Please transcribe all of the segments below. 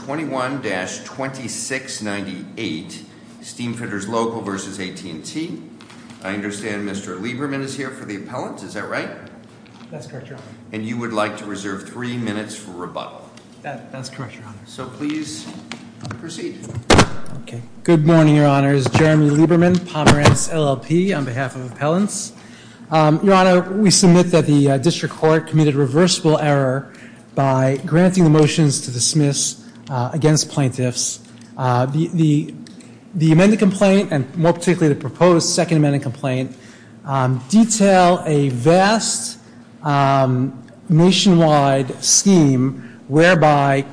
21-2698, Steamfitters Local vs. AT&T. I understand Mr. Lieberman is here for the appellant, is that right? That's correct, Your Honor. And you would like to reserve three minutes for rebuttal. That's correct, Your Honor. So please proceed. Good morning, Your Honor. It's Jeremy Lieberman, Pomerantz LLP, on behalf of appellants. Your Honor, we submit that the District Court committed a reversible error by granting the against plaintiffs. The amended complaint, and more particularly the proposed second amended complaint, detail a vast nationwide scheme whereby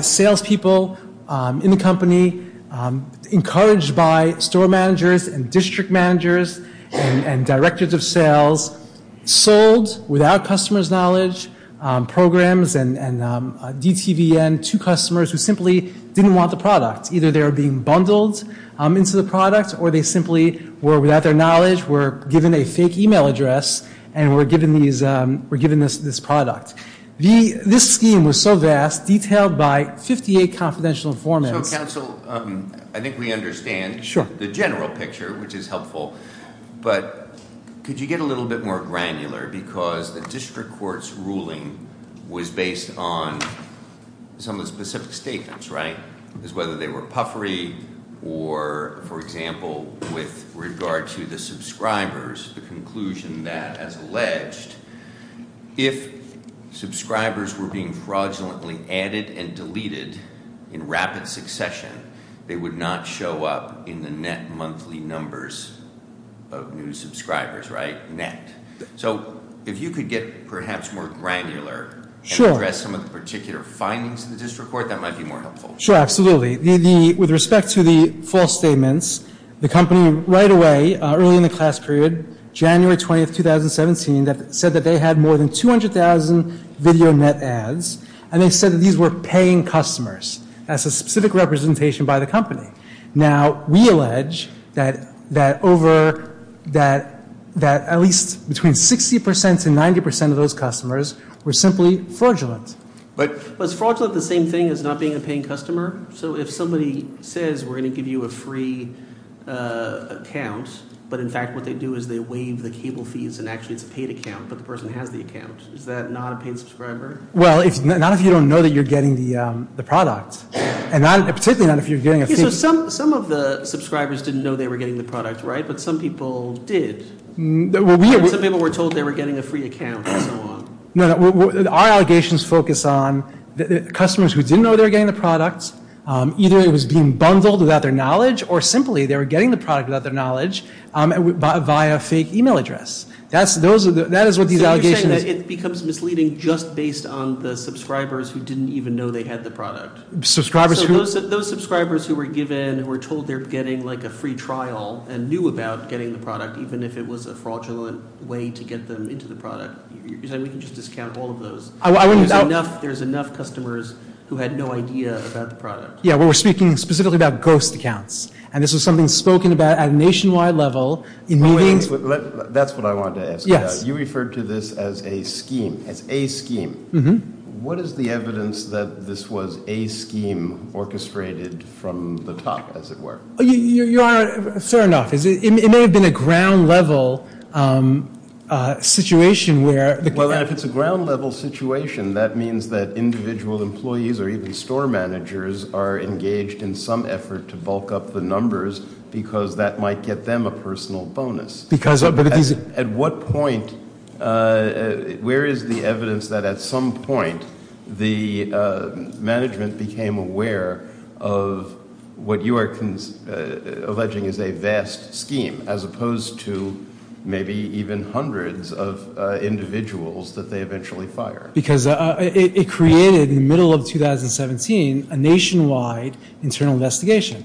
salespeople in the company, encouraged by store managers and district managers and directors of sales, sold, without customer's knowledge, programs and DTVN to customers who simply didn't want the product. Either they were being bundled into the product or they simply were, without their knowledge, were given a fake email address and were given this product. This scheme was so vast, detailed by 58 confidential informants- So counsel, I think we understand the general picture, which is helpful, but could you get a little bit more granular, because the District Court's ruling was based on some of the specific statements, right? Whether they were puffery or, for example, with regard to the subscribers, the conclusion that, as alleged, if subscribers were being fraudulently added and deleted in rapid succession, they would not show up in the net monthly numbers of new subscribers, right? So if you could get perhaps more granular and address some of the particular findings in the District Court, that might be more helpful. Sure, absolutely. With respect to the false statements, the company right away, early in the class period, January 20th, 2017, said that they had more than 200,000 video net ads, and they said that these were paying customers. That's a specific representation by the company. Now, we allege that at least between 60% to 90% of those customers were simply fraudulent. But was fraudulent the same thing as not being a paying customer? So if somebody says, we're going to give you a free account, but in fact what they do is they waive the cable fees and actually it's a paid account, but the person has the account, is that not a paid subscriber? Well, not if you don't know that you're getting the product, and particularly not if you're Some of the subscribers didn't know they were getting the product, right? But some people did. Some people were told they were getting a free account and so on. No, our allegations focus on the customers who didn't know they were getting the product, either it was being bundled without their knowledge, or simply they were getting the product without their knowledge via a fake email address. That is what these allegations... So you're saying that it becomes misleading just based on the subscribers who didn't even know they had the product? Subscribers who... So those subscribers who were given, who were told they were getting like a free trial and knew about getting the product, even if it was a fraudulent way to get them into the product, you're saying we can just discount all of those? There's enough customers who had no idea about the product? Yeah, we were speaking specifically about ghost accounts, and this was something spoken about at a nationwide level in meetings... That's what I wanted to ask. Yes. You referred to this as a scheme, as a scheme. Mm-hmm. What is the evidence that this was a scheme orchestrated from the top, as it were? You are... Fair enough. It may have been a ground level situation where... Well, if it's a ground level situation, that means that individual employees or even store managers are engaged in some effort to bulk up the numbers because that might get them a personal bonus. Because... At what point, where is the evidence that at some point the management became aware of what you are alleging is a vast scheme, as opposed to maybe even hundreds of individuals that they eventually fire? Because it created, in the middle of 2017, a nationwide internal investigation,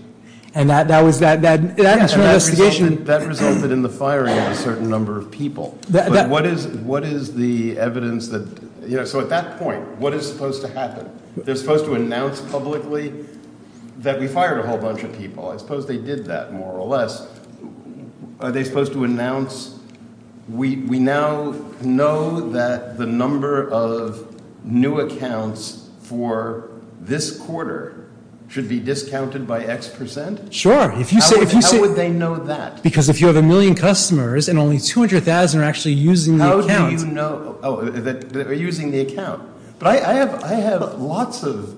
and that was that... That resulted in the firing of a certain number of people. But what is the evidence that... So at that point, what is supposed to happen? They're supposed to announce publicly that we fired a whole bunch of people. I suppose they did that, more or less. Are they supposed to announce, we now know that the number of new accounts for this quarter should be discounted by X percent? Sure. If you say... How would they know that? Because if you have a million customers and only 200,000 are actually using the account... How do you know that they're using the account? But I have lots of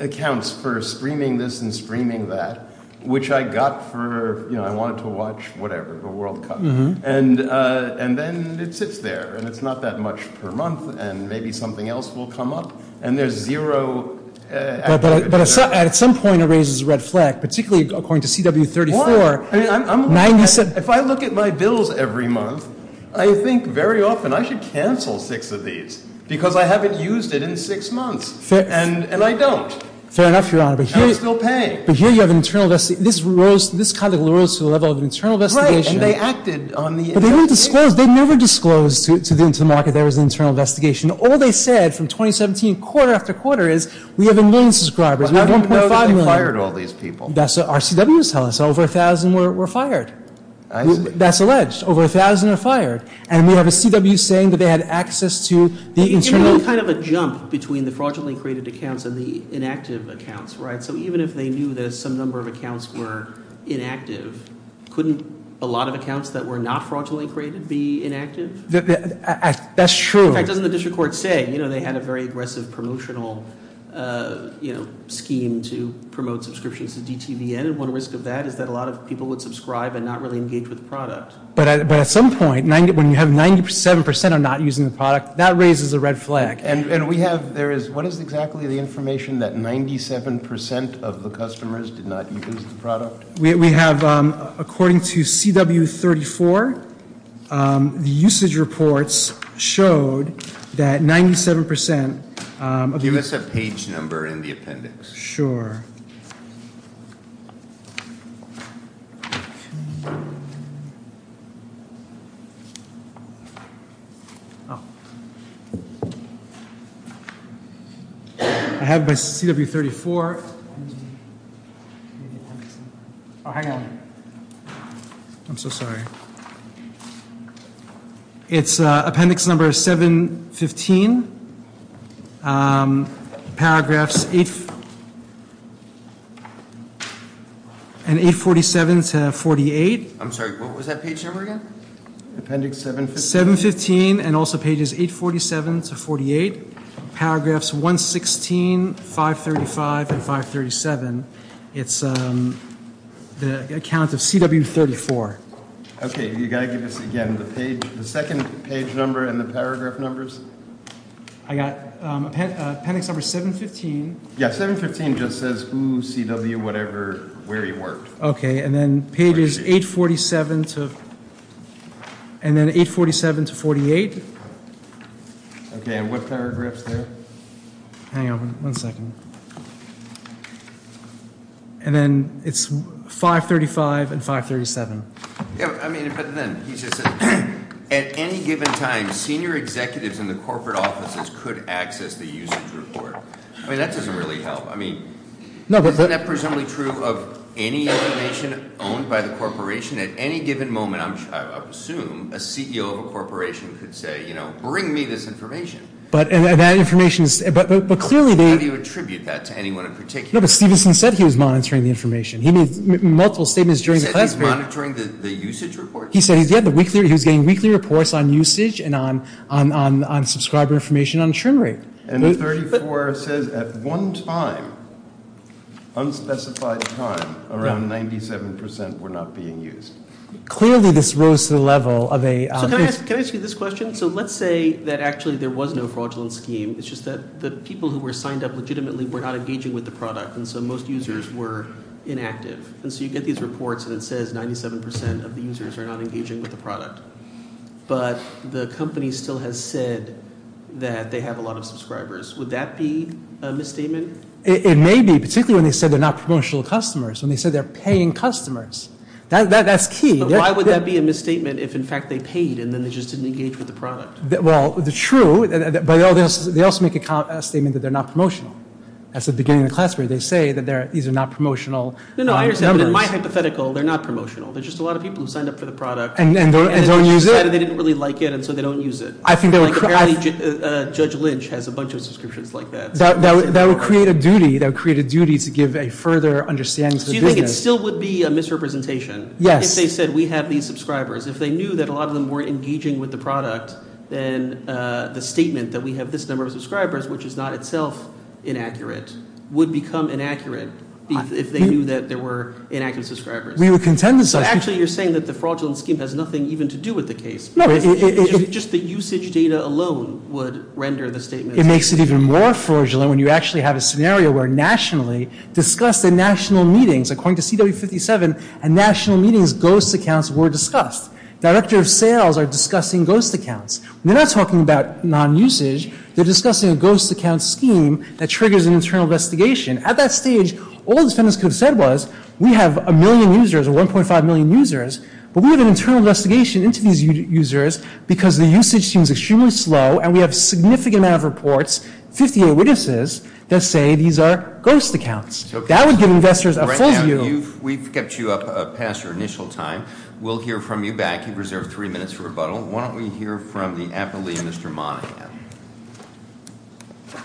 accounts for streaming this and streaming that, which I got for, you know, I wanted to watch, whatever, the World Cup. And then it sits there, and it's not that much per month, and maybe something else will come up, and there's zero... But at some point, it raises a red flag, particularly according to CW 34. Why? If I look at my bills every month, I think very often I should cancel six of these because I haven't used it in six months, and I don't. Fair enough, Your Honor. And I'm still paying. But here you have an internal... This kind of rose to the level of an internal investigation. Right, and they acted on the... But they never disclosed to the market there was an internal investigation. All they said from 2017, quarter after quarter, is we have a million subscribers. We have 1.5 million. But how do you know that they fired all these people? That's what our CWs tell us. Over 1,000 were fired. I see. That's alleged. Over 1,000 are fired. And we have a CW saying that they had access to the internal... It can be kind of a jump between the fraudulently created accounts and the inactive accounts, right? So even if they knew that some number of accounts were inactive, couldn't a lot of accounts that were not fraudulently created be inactive? That's true. In fact, doesn't the district court say they had a very aggressive promotional scheme to promote subscriptions to DTVN? And one risk of that is that a lot of people would subscribe and not really engage with the product. But at some point, when you have 97% are not using the product, that raises a red flag. And we have... What is exactly the information that 97% of the customers did not use the product? We have, according to CW 34, the usage reports showed that 97%... Give us a page number in the appendix. Sure. I have my CW 34. Oh, hang on. I'm so sorry. It's appendix number 715. Paragraphs 847 to 48. I'm sorry, what was that page number again? Appendix 715 and also pages 847 to 48. Paragraphs 116, 535, and 537. It's the account of CW 34. Okay, you got to give us again the page... The second page number and the paragraph numbers. I got appendix number 715. Yeah, 715 just says who CW whatever where he worked. Okay, and then pages 847 to... And then 847 to 48. Okay, and what paragraphs there? Hang on one second. And then it's 535 and 537. Yeah, I mean, but then he just said, At any given time, senior executives in the corporate offices could access the usage report. I mean, that doesn't really help. I mean, isn't that presumably true of any information owned by the corporation? At any given moment, I assume, a CEO of a corporation could say, you know, bring me this information. But that information is... How do you attribute that to anyone in particular? No, but Stevenson said he was monitoring the information. He made multiple statements during the class. He said he's monitoring the usage report? He said he was getting weekly reports on usage and on subscriber information on trim rate. And 34 says at one time, unspecified time, around 97% were not being used. Clearly, this rose to the level of a... Can I ask you this question? So let's say that actually there was no fraudulent scheme. It's just that the people who were signed up legitimately were not engaging with the product. And so most users were inactive. And so you get these reports, and it says 97% of the users are not engaging with the product. But the company still has said that they have a lot of subscribers. Would that be a misstatement? It may be, particularly when they said they're not promotional customers, when they said they're paying customers. That's key. But why would that be a misstatement if, in fact, they paid and then they just didn't engage with the product? Well, true, but they also make a statement that they're not promotional. That's the beginning of the class where they say that these are not promotional numbers. No, no, I understand. But in my hypothetical, they're not promotional. They're just a lot of people who signed up for the product. And don't use it? And decided they didn't really like it, and so they don't use it. I think that would... Apparently, Judge Lynch has a bunch of subscriptions like that. That would create a duty to give a further understanding to the business. So you think it still would be a misrepresentation? Yes. If they said we have these subscribers, if they knew that a lot of them weren't engaging with the product, then the statement that we have this number of subscribers, which is not itself inaccurate, would become inaccurate if they knew that there were inaccurate subscribers. We would contend with such... Actually, you're saying that the fraudulent scheme has nothing even to do with the case. No, it... Just the usage data alone would render the statement... It makes it even more fraudulent when you actually have a scenario where nationally, discussed at national meetings, according to CW57, at national meetings, ghost accounts were discussed. Director of Sales are discussing ghost accounts. They're not talking about non-usage. They're discussing a ghost account scheme that triggers an internal investigation. At that stage, all the defendants could have said was, we have a million users, or 1.5 million users, but we have an internal investigation into these users, because the usage seems extremely slow, and we have a significant amount of reports, 58 witnesses, that say these are ghost accounts. That would give investors a full view... Right now, we've kept you up past your initial time. We'll hear from you back. You've reserved three minutes for rebuttal. Why don't we hear from the appellee, Mr. Monahan. Thank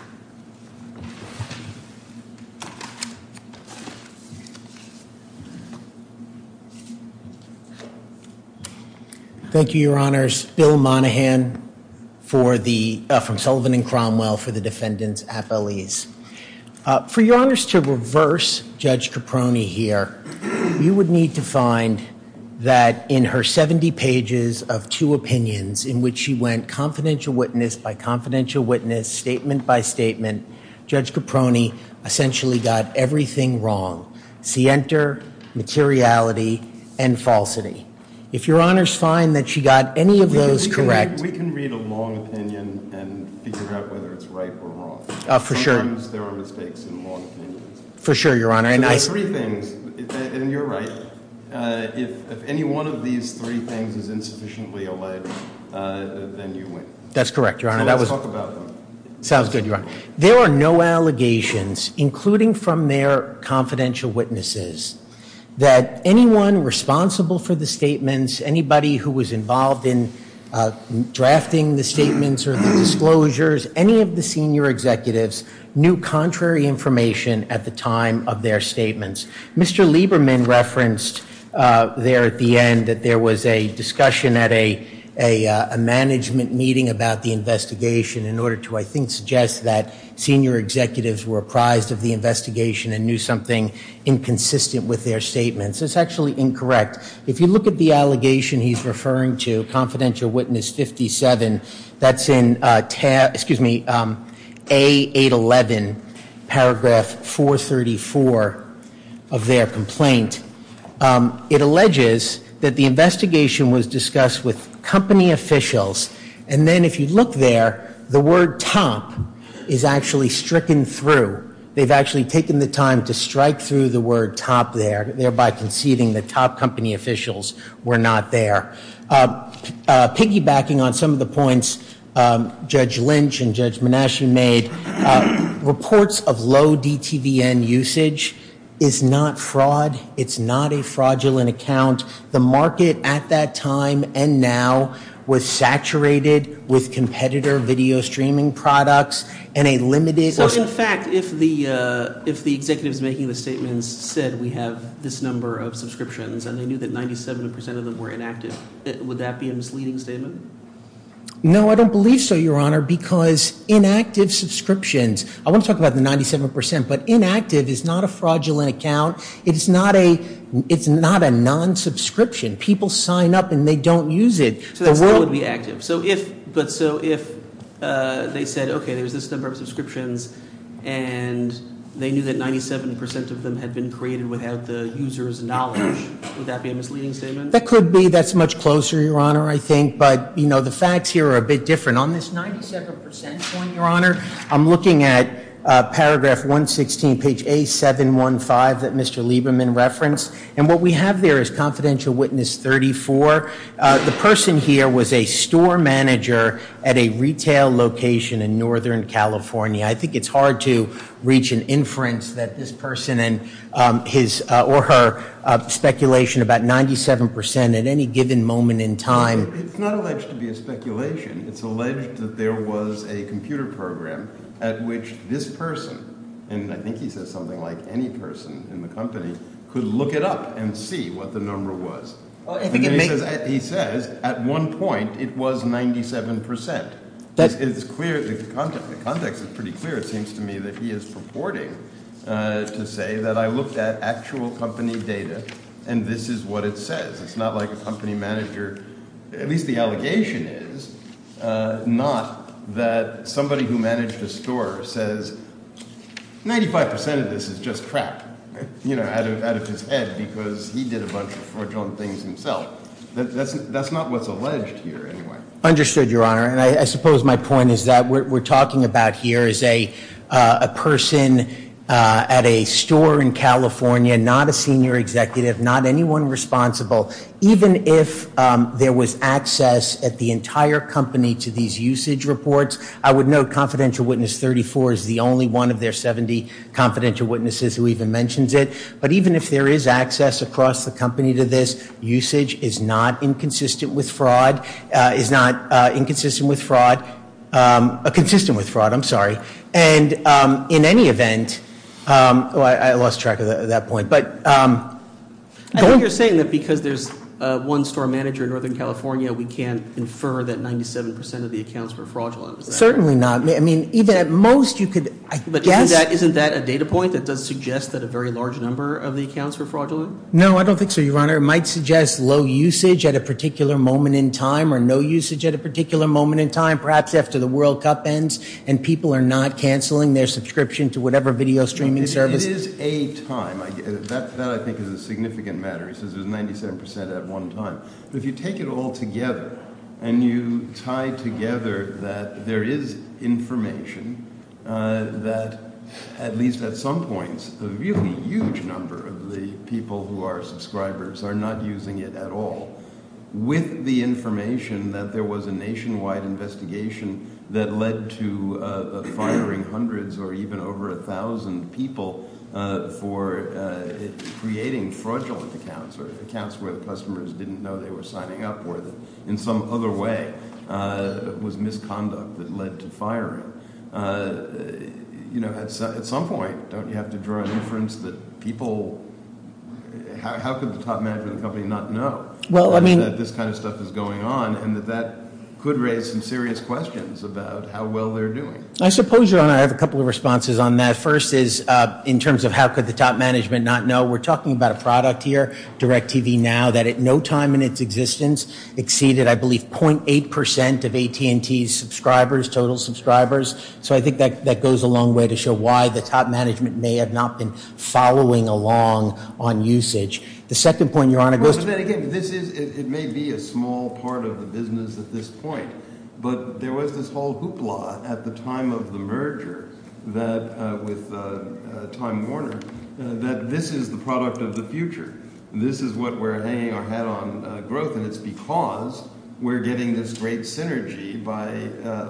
you. Thank you, Your Honors. Bill Monahan from Sullivan and Cromwell for the defendants' appellees. For Your Honors to reverse Judge Caproni here, you would need to find that in her 70 pages of two opinions in which she went confidential witness by confidential witness, statement by statement, Judge Caproni essentially got everything wrong, scienter, materiality, and falsity. If Your Honors find that she got any of those correct... We can read a long opinion and figure out whether it's right or wrong. For sure. Sometimes there are mistakes in long opinions. For sure, Your Honor. And you're right. If any one of these three things is insufficiently alleged, then you win. That's correct, Your Honor. So let's talk about them. Sounds good, Your Honor. There are no allegations, including from their confidential witnesses, that anyone responsible for the statements, anybody who was involved in drafting the statements or the disclosures, any of the senior executives knew contrary information at the time of their statements. Mr. Lieberman referenced there at the end that there was a discussion at a management meeting about the investigation in order to, I think, suggest that senior executives were apprised of the investigation and knew something inconsistent with their statements. That's actually incorrect. If you look at the allegation he's referring to, confidential witness 57, that's in A811, paragraph 434 of their complaint. It alleges that the investigation was discussed with company officials, and then if you look there, the word top is actually stricken through. They've actually taken the time to strike through the word top there, thereby conceding that top company officials were not there. Piggybacking on some of the points Judge Lynch and Judge Monash made, reports of low DTVN usage is not fraud. It's not a fraudulent account. The market at that time and now was saturated with competitor video streaming products and a limited So, in fact, if the executives making the statements said we have this number of subscriptions and they knew that 97% of them were inactive, would that be a misleading statement? No, I don't believe so, Your Honor, because inactive subscriptions, I want to talk about the 97%, but inactive is not a fraudulent account. It's not a non-subscription. People sign up and they don't use it. So that's how it would be active. And they knew that 97% of them had been created without the user's knowledge. Would that be a misleading statement? That could be. That's much closer, Your Honor, I think. But, you know, the facts here are a bit different. On this 97% point, Your Honor, I'm looking at paragraph 116, page A715 that Mr. Lieberman referenced. And what we have there is confidential witness 34. The person here was a store manager at a retail location in Northern California. I think it's hard to reach an inference that this person and his or her speculation about 97% at any given moment in time. It's not alleged to be a speculation. It's alleged that there was a computer program at which this person, and I think he says something like any person in the company, could look it up and see what the number was. He says at one point it was 97%. It's clear, the context is pretty clear, it seems to me that he is purporting to say that I looked at actual company data and this is what it says. It's not like a company manager, at least the allegation is, not that somebody who managed a store says 95% of this is just crap. You know, out of his head because he did a bunch of fraudulent things himself. That's not what's alleged here anyway. Understood, Your Honor. And I suppose my point is that what we're talking about here is a person at a store in California, not a senior executive, not anyone responsible. Even if there was access at the entire company to these usage reports, I would note confidential witness 34 is the only one of their 70 confidential witnesses who even mentions it. But even if there is access across the company to this, the usage is not inconsistent with fraud. Is not inconsistent with fraud. Consistent with fraud, I'm sorry. And in any event, I lost track of that point, but- I think you're saying that because there's one store manager in Northern California, we can infer that 97% of the accounts were fraudulent. Certainly not. I mean, even at most you could, I guess- But isn't that a data point that does suggest that a very large number of the accounts were fraudulent? No, I don't think so, Your Honor. It might suggest low usage at a particular moment in time or no usage at a particular moment in time, perhaps after the World Cup ends and people are not canceling their subscription to whatever video streaming service. It is a time. That, I think, is a significant matter. He says it was 97% at one time. But if you take it all together and you tie together that there is information that, at least at some points, a really huge number of the people who are subscribers are not using it at all. With the information that there was a nationwide investigation that led to firing hundreds or even over a thousand people for creating fraudulent accounts or accounts where the customers didn't know they were signing up or that in some other way was misconduct that led to firing. At some point, don't you have to draw an inference that people- How could the top management of the company not know that this kind of stuff is going on and that that could raise some serious questions about how well they're doing? I suppose, Your Honor, I have a couple of responses on that. First is in terms of how could the top management not know. We're talking about a product here, DirecTV Now, that at no time in its existence exceeded, I believe, 0.8% of AT&T's subscribers, total subscribers. So I think that goes a long way to show why the top management may have not been following along on usage. The second point, Your Honor- Well, but then again, it may be a small part of the business at this point. But there was this whole hoopla at the time of the merger with Time Warner that this is the product of the future. This is what we're hanging our hat on growth, and it's because we're getting this great synergy by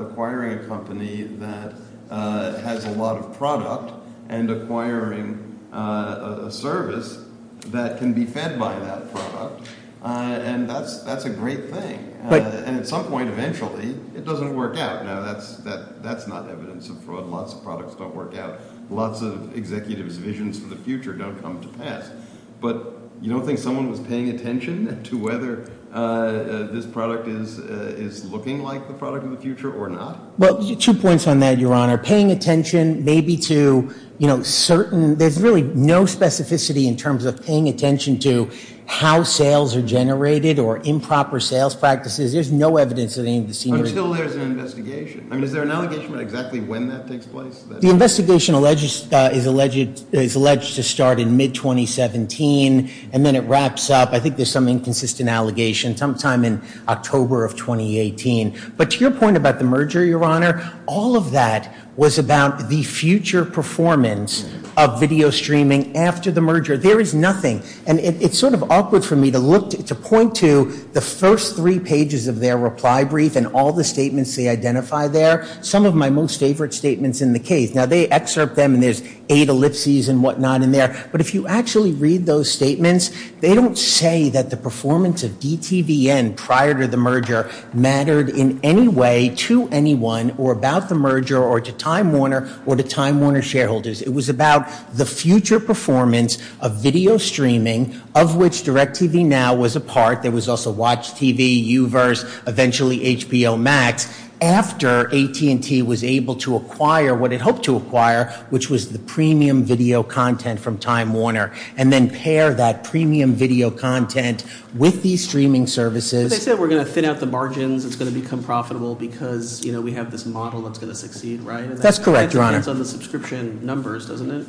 acquiring a company that has a lot of product and acquiring a service that can be fed by that product. And that's a great thing. And at some point, eventually, it doesn't work out. Now, that's not evidence of fraud. Lots of products don't work out. But you don't think someone was paying attention to whether this product is looking like the product of the future or not? Well, two points on that, Your Honor. Paying attention maybe to certain- There's really no specificity in terms of paying attention to how sales are generated or improper sales practices. There's no evidence of any of the senior- Until there's an investigation. I mean, is there an allegation about exactly when that takes place? The investigation is alleged to start in mid-2017, and then it wraps up. I think there's some inconsistent allegation sometime in October of 2018. But to your point about the merger, Your Honor, all of that was about the future performance of video streaming after the merger. There is nothing. And it's sort of awkward for me to point to the first three pages of their reply brief and all the statements they identify there. Some of my most favorite statements in the case. Now, they excerpt them, and there's eight ellipses and whatnot in there. But if you actually read those statements, they don't say that the performance of DTVN prior to the merger mattered in any way to anyone or about the merger or to Time Warner or to Time Warner shareholders. It was about the future performance of video streaming, of which DirecTV Now was a part. There was also WatchTV, U-verse, eventually HBO Max, after AT&T was able to acquire what it hoped to acquire, which was the premium video content from Time Warner. And then pair that premium video content with these streaming services. They said we're going to thin out the margins. It's going to become profitable because we have this model that's going to succeed, right? That's correct, Your Honor. And that depends on the subscription numbers, doesn't it?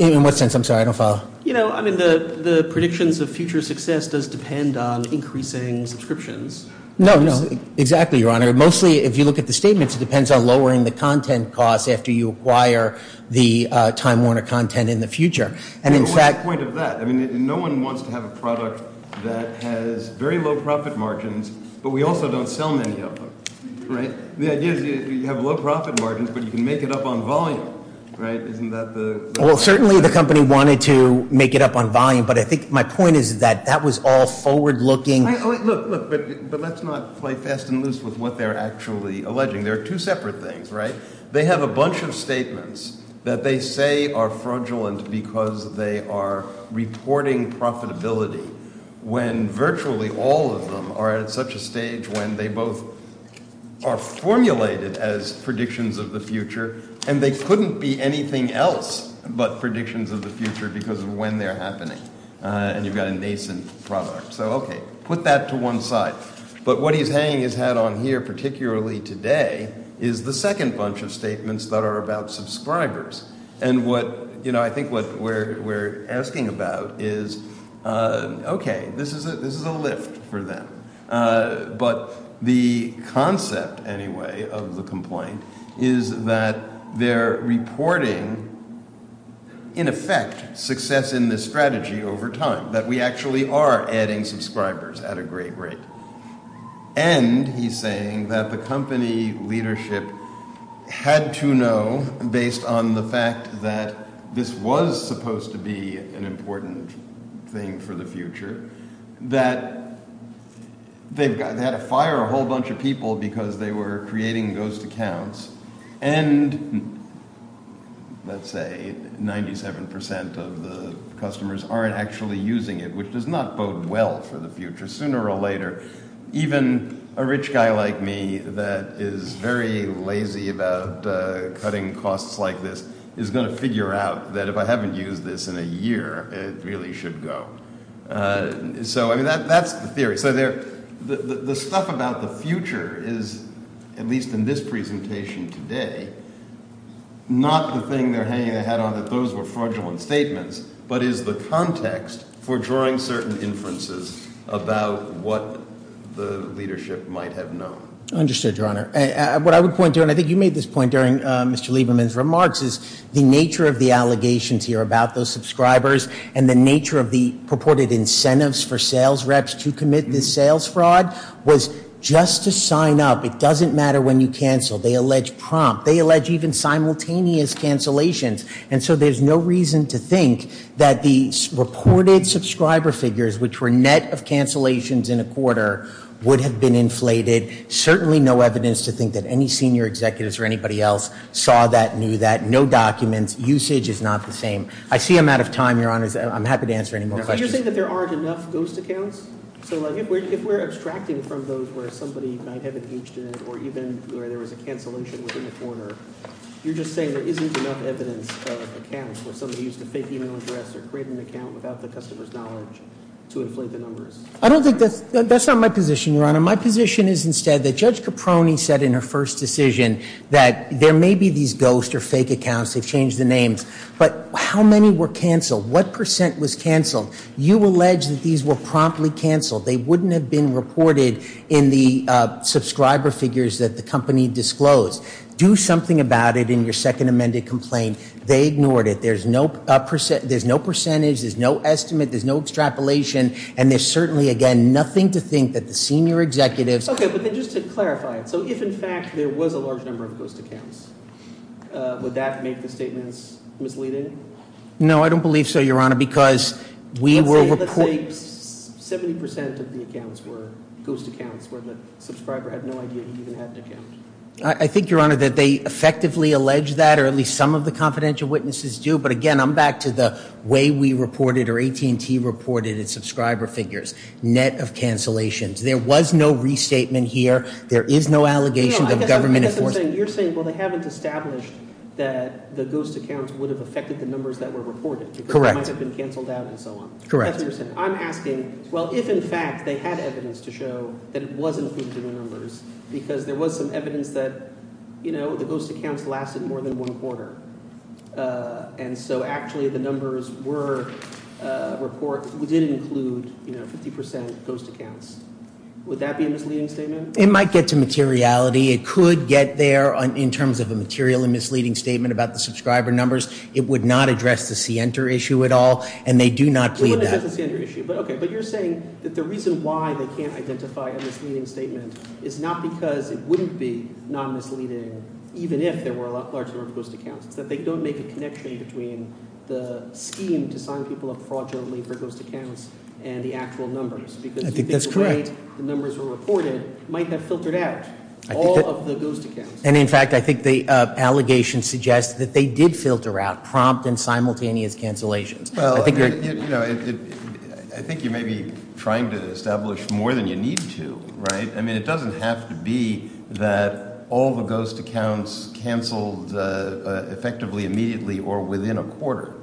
In what sense? I'm sorry. I don't follow. You know, I mean, the predictions of future success does depend on increasing subscriptions. No, no. Exactly, Your Honor. Mostly, if you look at the statements, it depends on lowering the content costs after you acquire the Time Warner content in the future. What's the point of that? I mean, no one wants to have a product that has very low profit margins, but we also don't sell many of them, right? The idea is you have low profit margins, but you can make it up on volume, right? Well, certainly the company wanted to make it up on volume, but I think my point is that that was all forward looking. Look, but let's not play fast and loose with what they're actually alleging. There are two separate things, right? They have a bunch of statements that they say are fraudulent because they are reporting profitability when virtually all of them are at such a stage when they both are formulated as predictions of the future and they couldn't be anything else but predictions of the future because of when they're happening. And you've got a nascent product. So, okay, put that to one side. But what he's hanging his hat on here, particularly today, is the second bunch of statements that are about subscribers. And what, you know, I think what we're asking about is, okay, this is a lift for them. But the concept, anyway, of the complaint is that they're reporting, in effect, success in this strategy over time, that we actually are adding subscribers at a great rate. And he's saying that the company leadership had to know, based on the fact that this was supposed to be an important thing for the future, that they had to fire a whole bunch of people because they were creating ghost accounts. And let's say 97% of the customers aren't actually using it, which does not bode well for the future. Sooner or later, even a rich guy like me that is very lazy about cutting costs like this is going to figure out that if I haven't used this in a year, it really should go. So, I mean, that's the theory. So the stuff about the future is, at least in this presentation today, not the thing they're hanging their hat on, that those were fraudulent statements, but is the context for drawing certain inferences about what the leadership might have known. I understood, Your Honor. What I would point to, and I think you made this point during Mr. Lieberman's remarks, is the nature of the allegations here about those subscribers and the nature of the purported incentives for sales reps to commit this sales fraud was just to sign up. It doesn't matter when you cancel. They allege prompt. They allege even simultaneous cancellations. And so there's no reason to think that the reported subscriber figures, which were net of cancellations in a quarter, would have been inflated. Certainly no evidence to think that any senior executives or anybody else saw that, knew that. No documents. Usage is not the same. I see I'm out of time, Your Honor. I'm happy to answer any more questions. But you're saying that there aren't enough ghost accounts? So, like, if we're extracting from those where somebody might have engaged in it or even where there was a cancellation within a quarter, you're just saying there isn't enough evidence of accounts where somebody used a fake e-mail address or created an account without the customer's knowledge to inflate the numbers? I don't think that's – that's not my position, Your Honor. My position is instead that Judge Caproni said in her first decision that there may be these ghost or fake accounts. They've changed the names. But how many were canceled? What percent was canceled? You allege that these were promptly canceled. They wouldn't have been reported in the subscriber figures that the company disclosed. Do something about it in your second amended complaint. They ignored it. There's no – there's no percentage. There's no estimate. There's no extrapolation. And there's certainly, again, nothing to think that the senior executives – Okay, but then just to clarify, so if, in fact, there was a large number of ghost accounts, would that make the statements misleading? No, I don't believe so, Your Honor, because we were – Let's say – let's say 70 percent of the accounts were ghost accounts where the subscriber had no idea he even had an account. I think, Your Honor, that they effectively allege that or at least some of the confidential witnesses do. But, again, I'm back to the way we reported or AT&T reported its subscriber figures. Net of cancellations. There was no restatement here. There is no allegation that the government – No, I guess what you're saying – you're saying, well, they haven't established that the ghost accounts would have affected the numbers that were reported. Correct. Because they might have been canceled out and so on. Correct. That's what you're saying. I'm asking, well, if, in fact, they had evidence to show that it was included in the numbers because there was some evidence that, you know, the ghost accounts lasted more than one quarter and so actually the numbers were – report – didn't include, you know, 50 percent ghost accounts. Would that be a misleading statement? It might get to materiality. It could get there in terms of a material and misleading statement about the subscriber numbers. It would not address the Sienter issue at all, and they do not plead that. It wouldn't address the Sienter issue. But, okay, but you're saying that the reason why they can't identify a misleading statement is not because it wouldn't be non-misleading even if there were a large number of ghost accounts. It's that they don't make a connection between the scheme to sign people up fraudulently for ghost accounts and the actual numbers. I think that's correct. Because you think the way the numbers were reported might have filtered out all of the ghost accounts. And, in fact, I think the allegation suggests that they did filter out prompt and simultaneous cancellations. Well, you know, I think you may be trying to establish more than you need to, right? I mean it doesn't have to be that all the ghost accounts canceled effectively immediately or within a quarter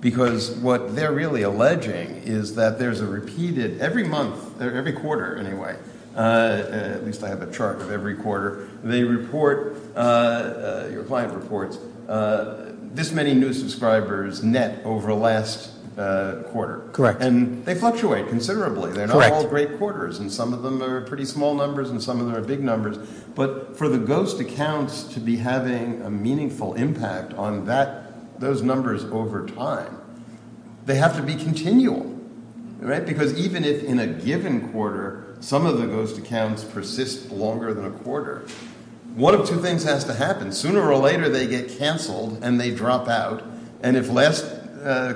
because what they're really alleging is that there's a repeated – every month, every quarter anyway, at least I have a chart of every quarter, they report – your client reports this many new subscribers net over the last quarter. Correct. And they fluctuate considerably. They're not all great quarters and some of them are pretty small numbers and some of them are big numbers. But for the ghost accounts to be having a meaningful impact on that – those numbers over time, they have to be continual, right? Because even if in a given quarter some of the ghost accounts persist longer than a quarter, one of two things has to happen. Sooner or later they get canceled and they drop out. And if last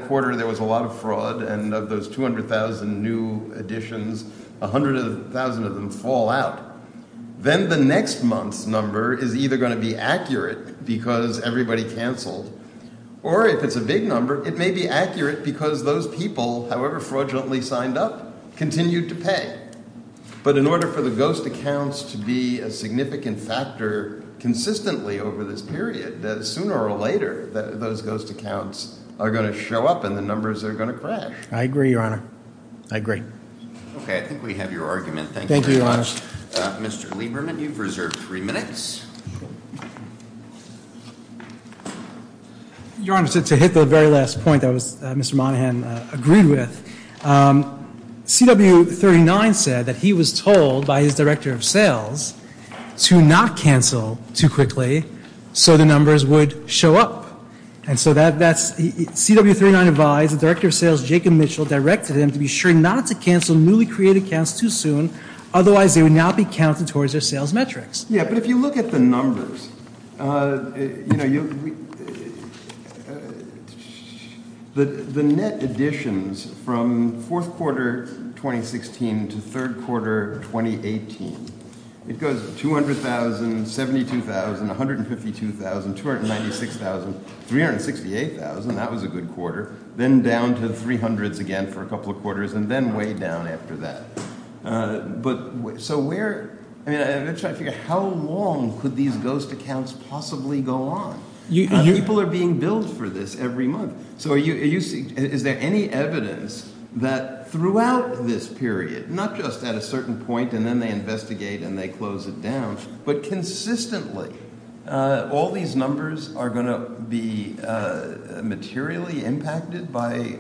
quarter there was a lot of fraud and of those 200,000 new additions, 100,000 of them fall out. Then the next month's number is either going to be accurate because everybody canceled or if it's a big number, it may be accurate because those people, however fraudulently signed up, continued to pay. But in order for the ghost accounts to be a significant factor consistently over this period, sooner or later those ghost accounts are going to show up and the numbers are going to crash. I agree, Your Honor. I agree. Okay. I think we have your argument. Thank you very much. Thank you, Your Honor. Mr. Lieberman, you've reserved three minutes. Your Honor, to hit the very last point that Mr. Monahan agreed with, CW39 said that he was told by his Director of Sales to not cancel too quickly so the numbers would show up. And so that's, CW39 advised the Director of Sales, Jacob Mitchell, directed him to be sure not to cancel newly created accounts too soon, otherwise they would not be counted towards their sales metrics. Yeah, but if you look at the numbers, you know, the net additions from fourth quarter 2016 to third quarter 2018, it goes $200,000, $72,000, $152,000, $296,000, $368,000, that was a good quarter, then down to $300,000 again for a couple of quarters and then way down after that. So we're trying to figure out how long could these ghost accounts possibly go on? People are being billed for this every month. So is there any evidence that throughout this period, not just at a certain point and then they investigate and they close it down, but consistently all these numbers are going to be materially impacted by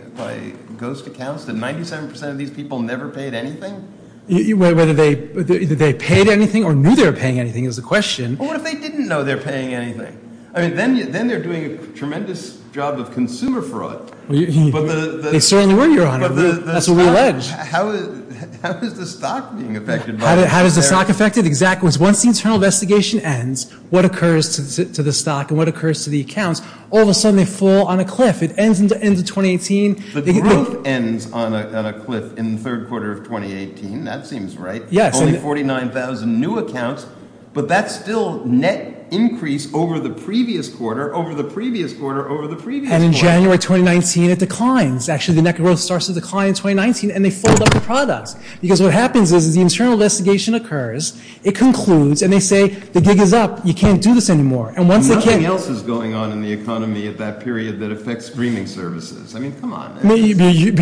ghost accounts? Did 97% of these people never pay anything? Whether they paid anything or knew they were paying anything is the question. Well, what if they didn't know they were paying anything? I mean, then they're doing a tremendous job of consumer fraud. They certainly were, Your Honor. That's what we allege. How is the stock being affected by this? How is the stock affected? Exactly. Once the internal investigation ends, what occurs to the stock and what occurs to the accounts, all of a sudden they fall on a cliff. It ends in 2018. The growth ends on a cliff in the third quarter of 2018. That seems right. Yes. Only 49,000 new accounts, but that's still net increase over the previous quarter, over the previous quarter, over the previous quarter. And in January 2019, it declines. Actually, the net growth starts to decline in 2019, and they fold up the products because what happens is the internal investigation occurs, it concludes, and they say the gig is up, you can't do this anymore. Nothing else is going on in the economy at that period that affects streaming services. I mean, come on.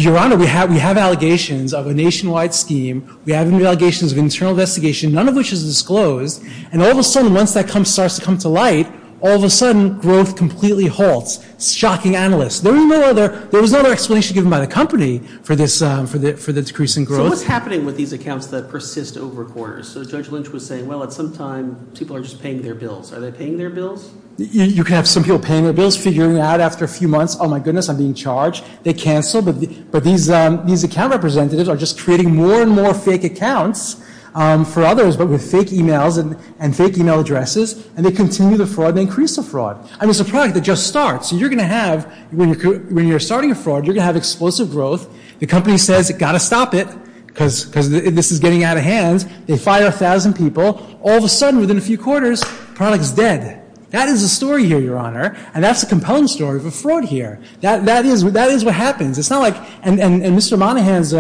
Your Honor, we have allegations of a nationwide scheme. We have allegations of internal investigation, none of which is disclosed. And all of a sudden, once that starts to come to light, all of a sudden growth completely halts. Shocking analysts. There was no other explanation given by the company for the decrease in growth. So what's happening with these accounts that persist over quarters? So Judge Lynch was saying, well, at some time, people are just paying their bills. Are they paying their bills? You can have some people paying their bills, figuring it out after a few months. Oh, my goodness, I'm being charged. They cancel, but these account representatives are just creating more and more fake accounts for others, but with fake e-mails and fake e-mail addresses, and they continue the fraud and increase the fraud. I mean, it's a product that just starts. So you're going to have, when you're starting a fraud, you're going to have explosive growth. The company says, got to stop it because this is getting out of hand. They fire 1,000 people. All of a sudden, within a few quarters, the product is dead. That is a story here, Your Honor. And that's a compelling story of a fraud here. That is what happens. It's not like, and Mr. Monahan's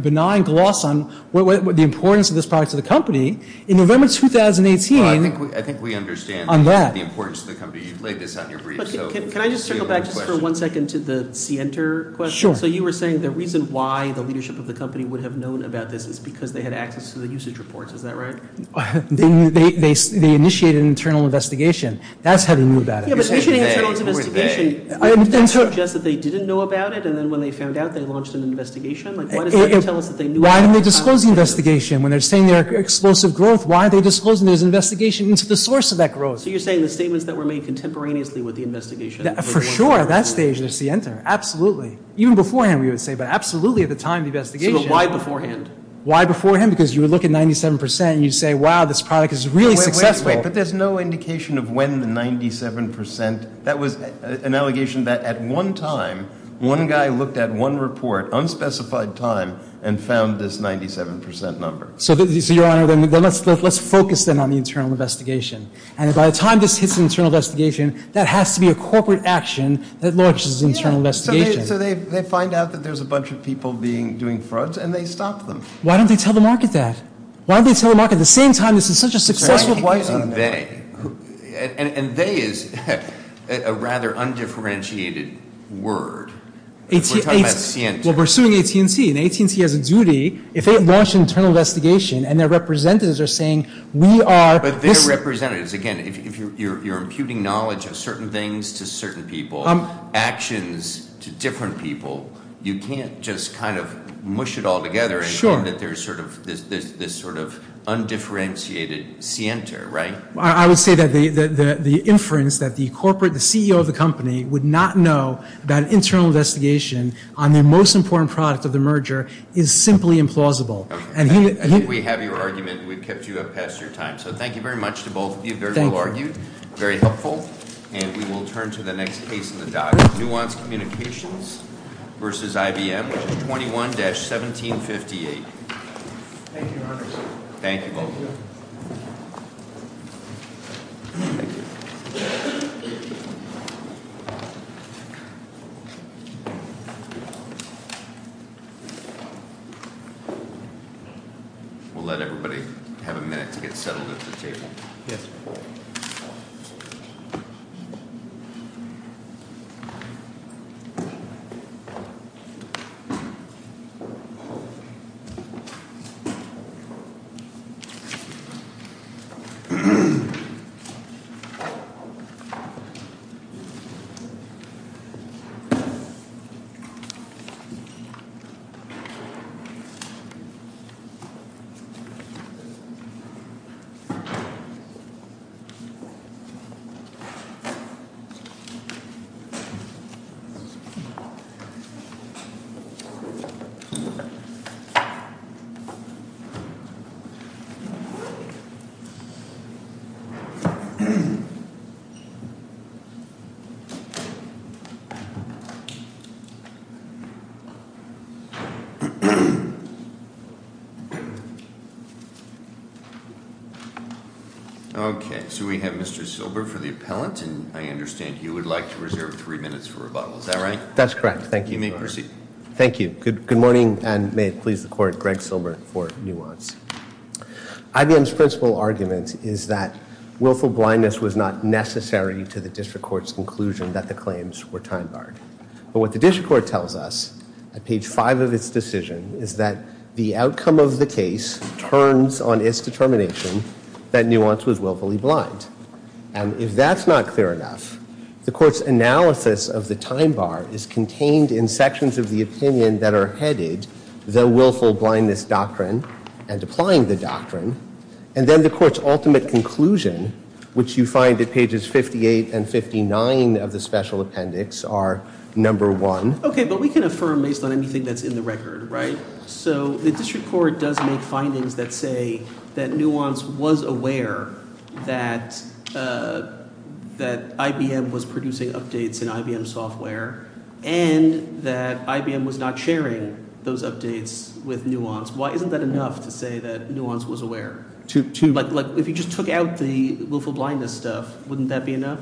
benign gloss on the importance of this product to the company. In November 2018. I think we understand the importance to the company. You've laid this out in your brief. Can I just circle back just for one second to the Center question? Sure. So you were saying the reason why the leadership of the company would have known about this is because they had access to the usage reports. Is that right? They initiated an internal investigation. That's how they knew about it. Yeah, but initiating an internal investigation, does that suggest that they didn't know about it? And then when they found out, they launched an investigation? Like, why does that tell us that they knew about it? Why didn't they disclose the investigation? When they're saying there's explosive growth, why are they disclosing there's an investigation into the source of that growth? So you're saying the statements that were made contemporaneously with the investigation. For sure. At that stage, that's the answer. Absolutely. Even beforehand, we would say, but absolutely at the time of the investigation. So why beforehand? Why beforehand? Because you would look at 97% and you'd say, wow, this product is really successful. But there's no indication of when the 97%, that was an allegation that at one time, one guy looked at one report, unspecified time, and found this 97% number. So, Your Honor, let's focus then on the internal investigation. And by the time this hits an internal investigation, that has to be a corporate action that launches an internal investigation. So they find out that there's a bunch of people doing frauds and they stop them. Why don't they tell the market that? Why don't they tell the market at the same time this is such a successful project? And they is a rather undifferentiated word. We're pursuing AT&T, and AT&T has a duty, if they launch an internal investigation and their representatives are saying, we are But their representatives, again, if you're imputing knowledge of certain things to certain people, actions to different people, you can't just kind of mush it all together. Sure. And that there's sort of this undifferentiated scienter, right? I would say that the inference that the corporate, the CEO of the company, would not know that an internal investigation on the most important product of the merger is simply implausible. I think we have your argument. We've kept you up past your time. So thank you very much to both of you. Very well argued. Thank you. Very helpful. And we will turn to the next case in the docket, Nuance Communications versus IBM, which is 21-1758. Thank you, Congressman. Thank you, both of you. Thank you. We'll let everybody have a minute to get settled at the table. Yes. Thank you. Okay. So we have Mr. Silber for the appellant, and I understand you would like to reserve three minutes for rebuttal. Is that right? That's correct. Thank you. You may proceed. Thank you. Good morning, and may it please the court, Greg Silber for Nuance. IBM's principal argument is that willful blindness was not necessary to the district court's conclusion that the claims were time-barred. But what the district court tells us at page five of its decision is that the outcome of the case turns on its determination that Nuance was willfully blind. And if that's not clear enough, the court's analysis of the time-bar is contained in sections of the opinion that are headed, the willful blindness doctrine and applying the doctrine. And then the court's ultimate conclusion, which you find at pages 58 and 59 of the special appendix, are number one. Okay, but we can affirm based on anything that's in the record, right? So the district court does make findings that say that Nuance was aware that IBM was producing updates in IBM software and that IBM was not sharing those updates with Nuance. Why isn't that enough to say that Nuance was aware? If you just took out the willful blindness stuff, wouldn't that be enough?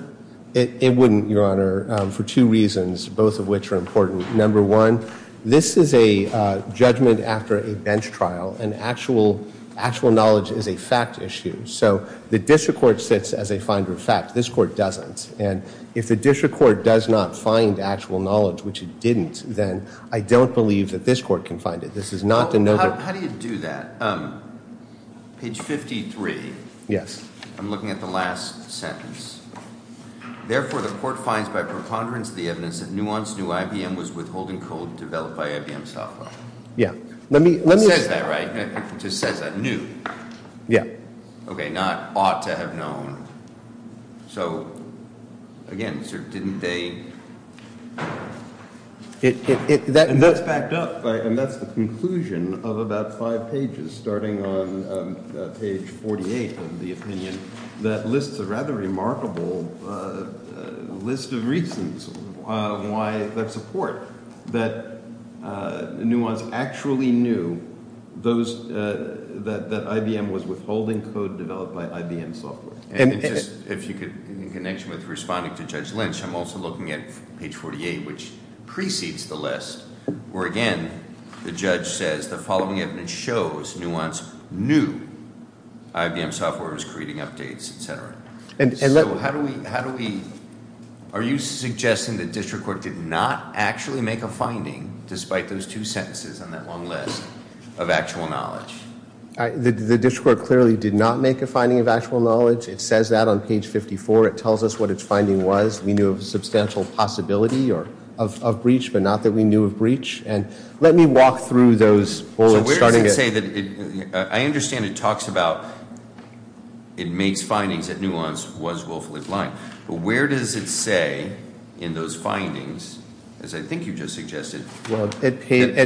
It wouldn't, Your Honor, for two reasons, both of which are important. Number one, this is a judgment after a bench trial, and actual knowledge is a fact issue. So the district court sits as a finder of fact. This court doesn't. And if the district court does not find actual knowledge, which it didn't, then I don't believe that this court can find it. How do you do that? Page 53. Yes. I'm looking at the last sentence. Therefore, the court finds by preponderance of the evidence that Nuance knew IBM was withholding code developed by IBM software. Yeah. It says that, right? It just says that. Knew. Yeah. Okay, not ought to have known. So, again, didn't they? And that's backed up. And that's the conclusion of about five pages, starting on page 48 of the opinion, that lists a rather remarkable list of reasons why that support, that Nuance actually knew that IBM was withholding code developed by IBM software. In connection with responding to Judge Lynch, I'm also looking at page 48, which precedes the list, where, again, the judge says the following evidence shows Nuance knew IBM software was creating updates, et cetera. So how do we, are you suggesting the district court did not actually make a finding, despite those two sentences on that long list, of actual knowledge? The district court clearly did not make a finding of actual knowledge. It says that on page 54. It tells us what its finding was. We knew of a substantial possibility of breach, but not that we knew of breach. And let me walk through those bullets, starting at – So where does it say that – I understand it talks about it makes findings that Nuance was willfully blind, but where does it say in those findings, as I think you just suggested – Well, at pages –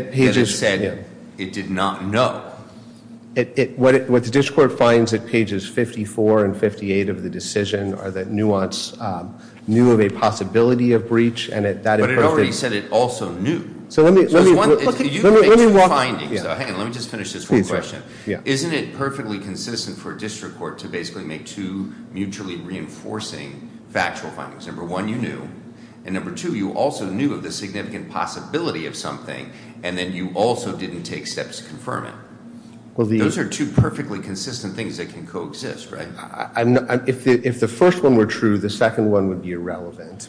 What the district court finds at pages 54 and 58 of the decision are that Nuance knew of a possibility of breach, and at that – But it already said it also knew. So let me – You make some findings. Hang on, let me just finish this one question. Yeah. Isn't it perfectly consistent for a district court to basically make two mutually reinforcing factual findings? Number one, you knew. And number two, you also knew of the significant possibility of something, and then you also didn't take steps to confirm it. Those are two perfectly consistent things that can coexist, right? If the first one were true, the second one would be irrelevant.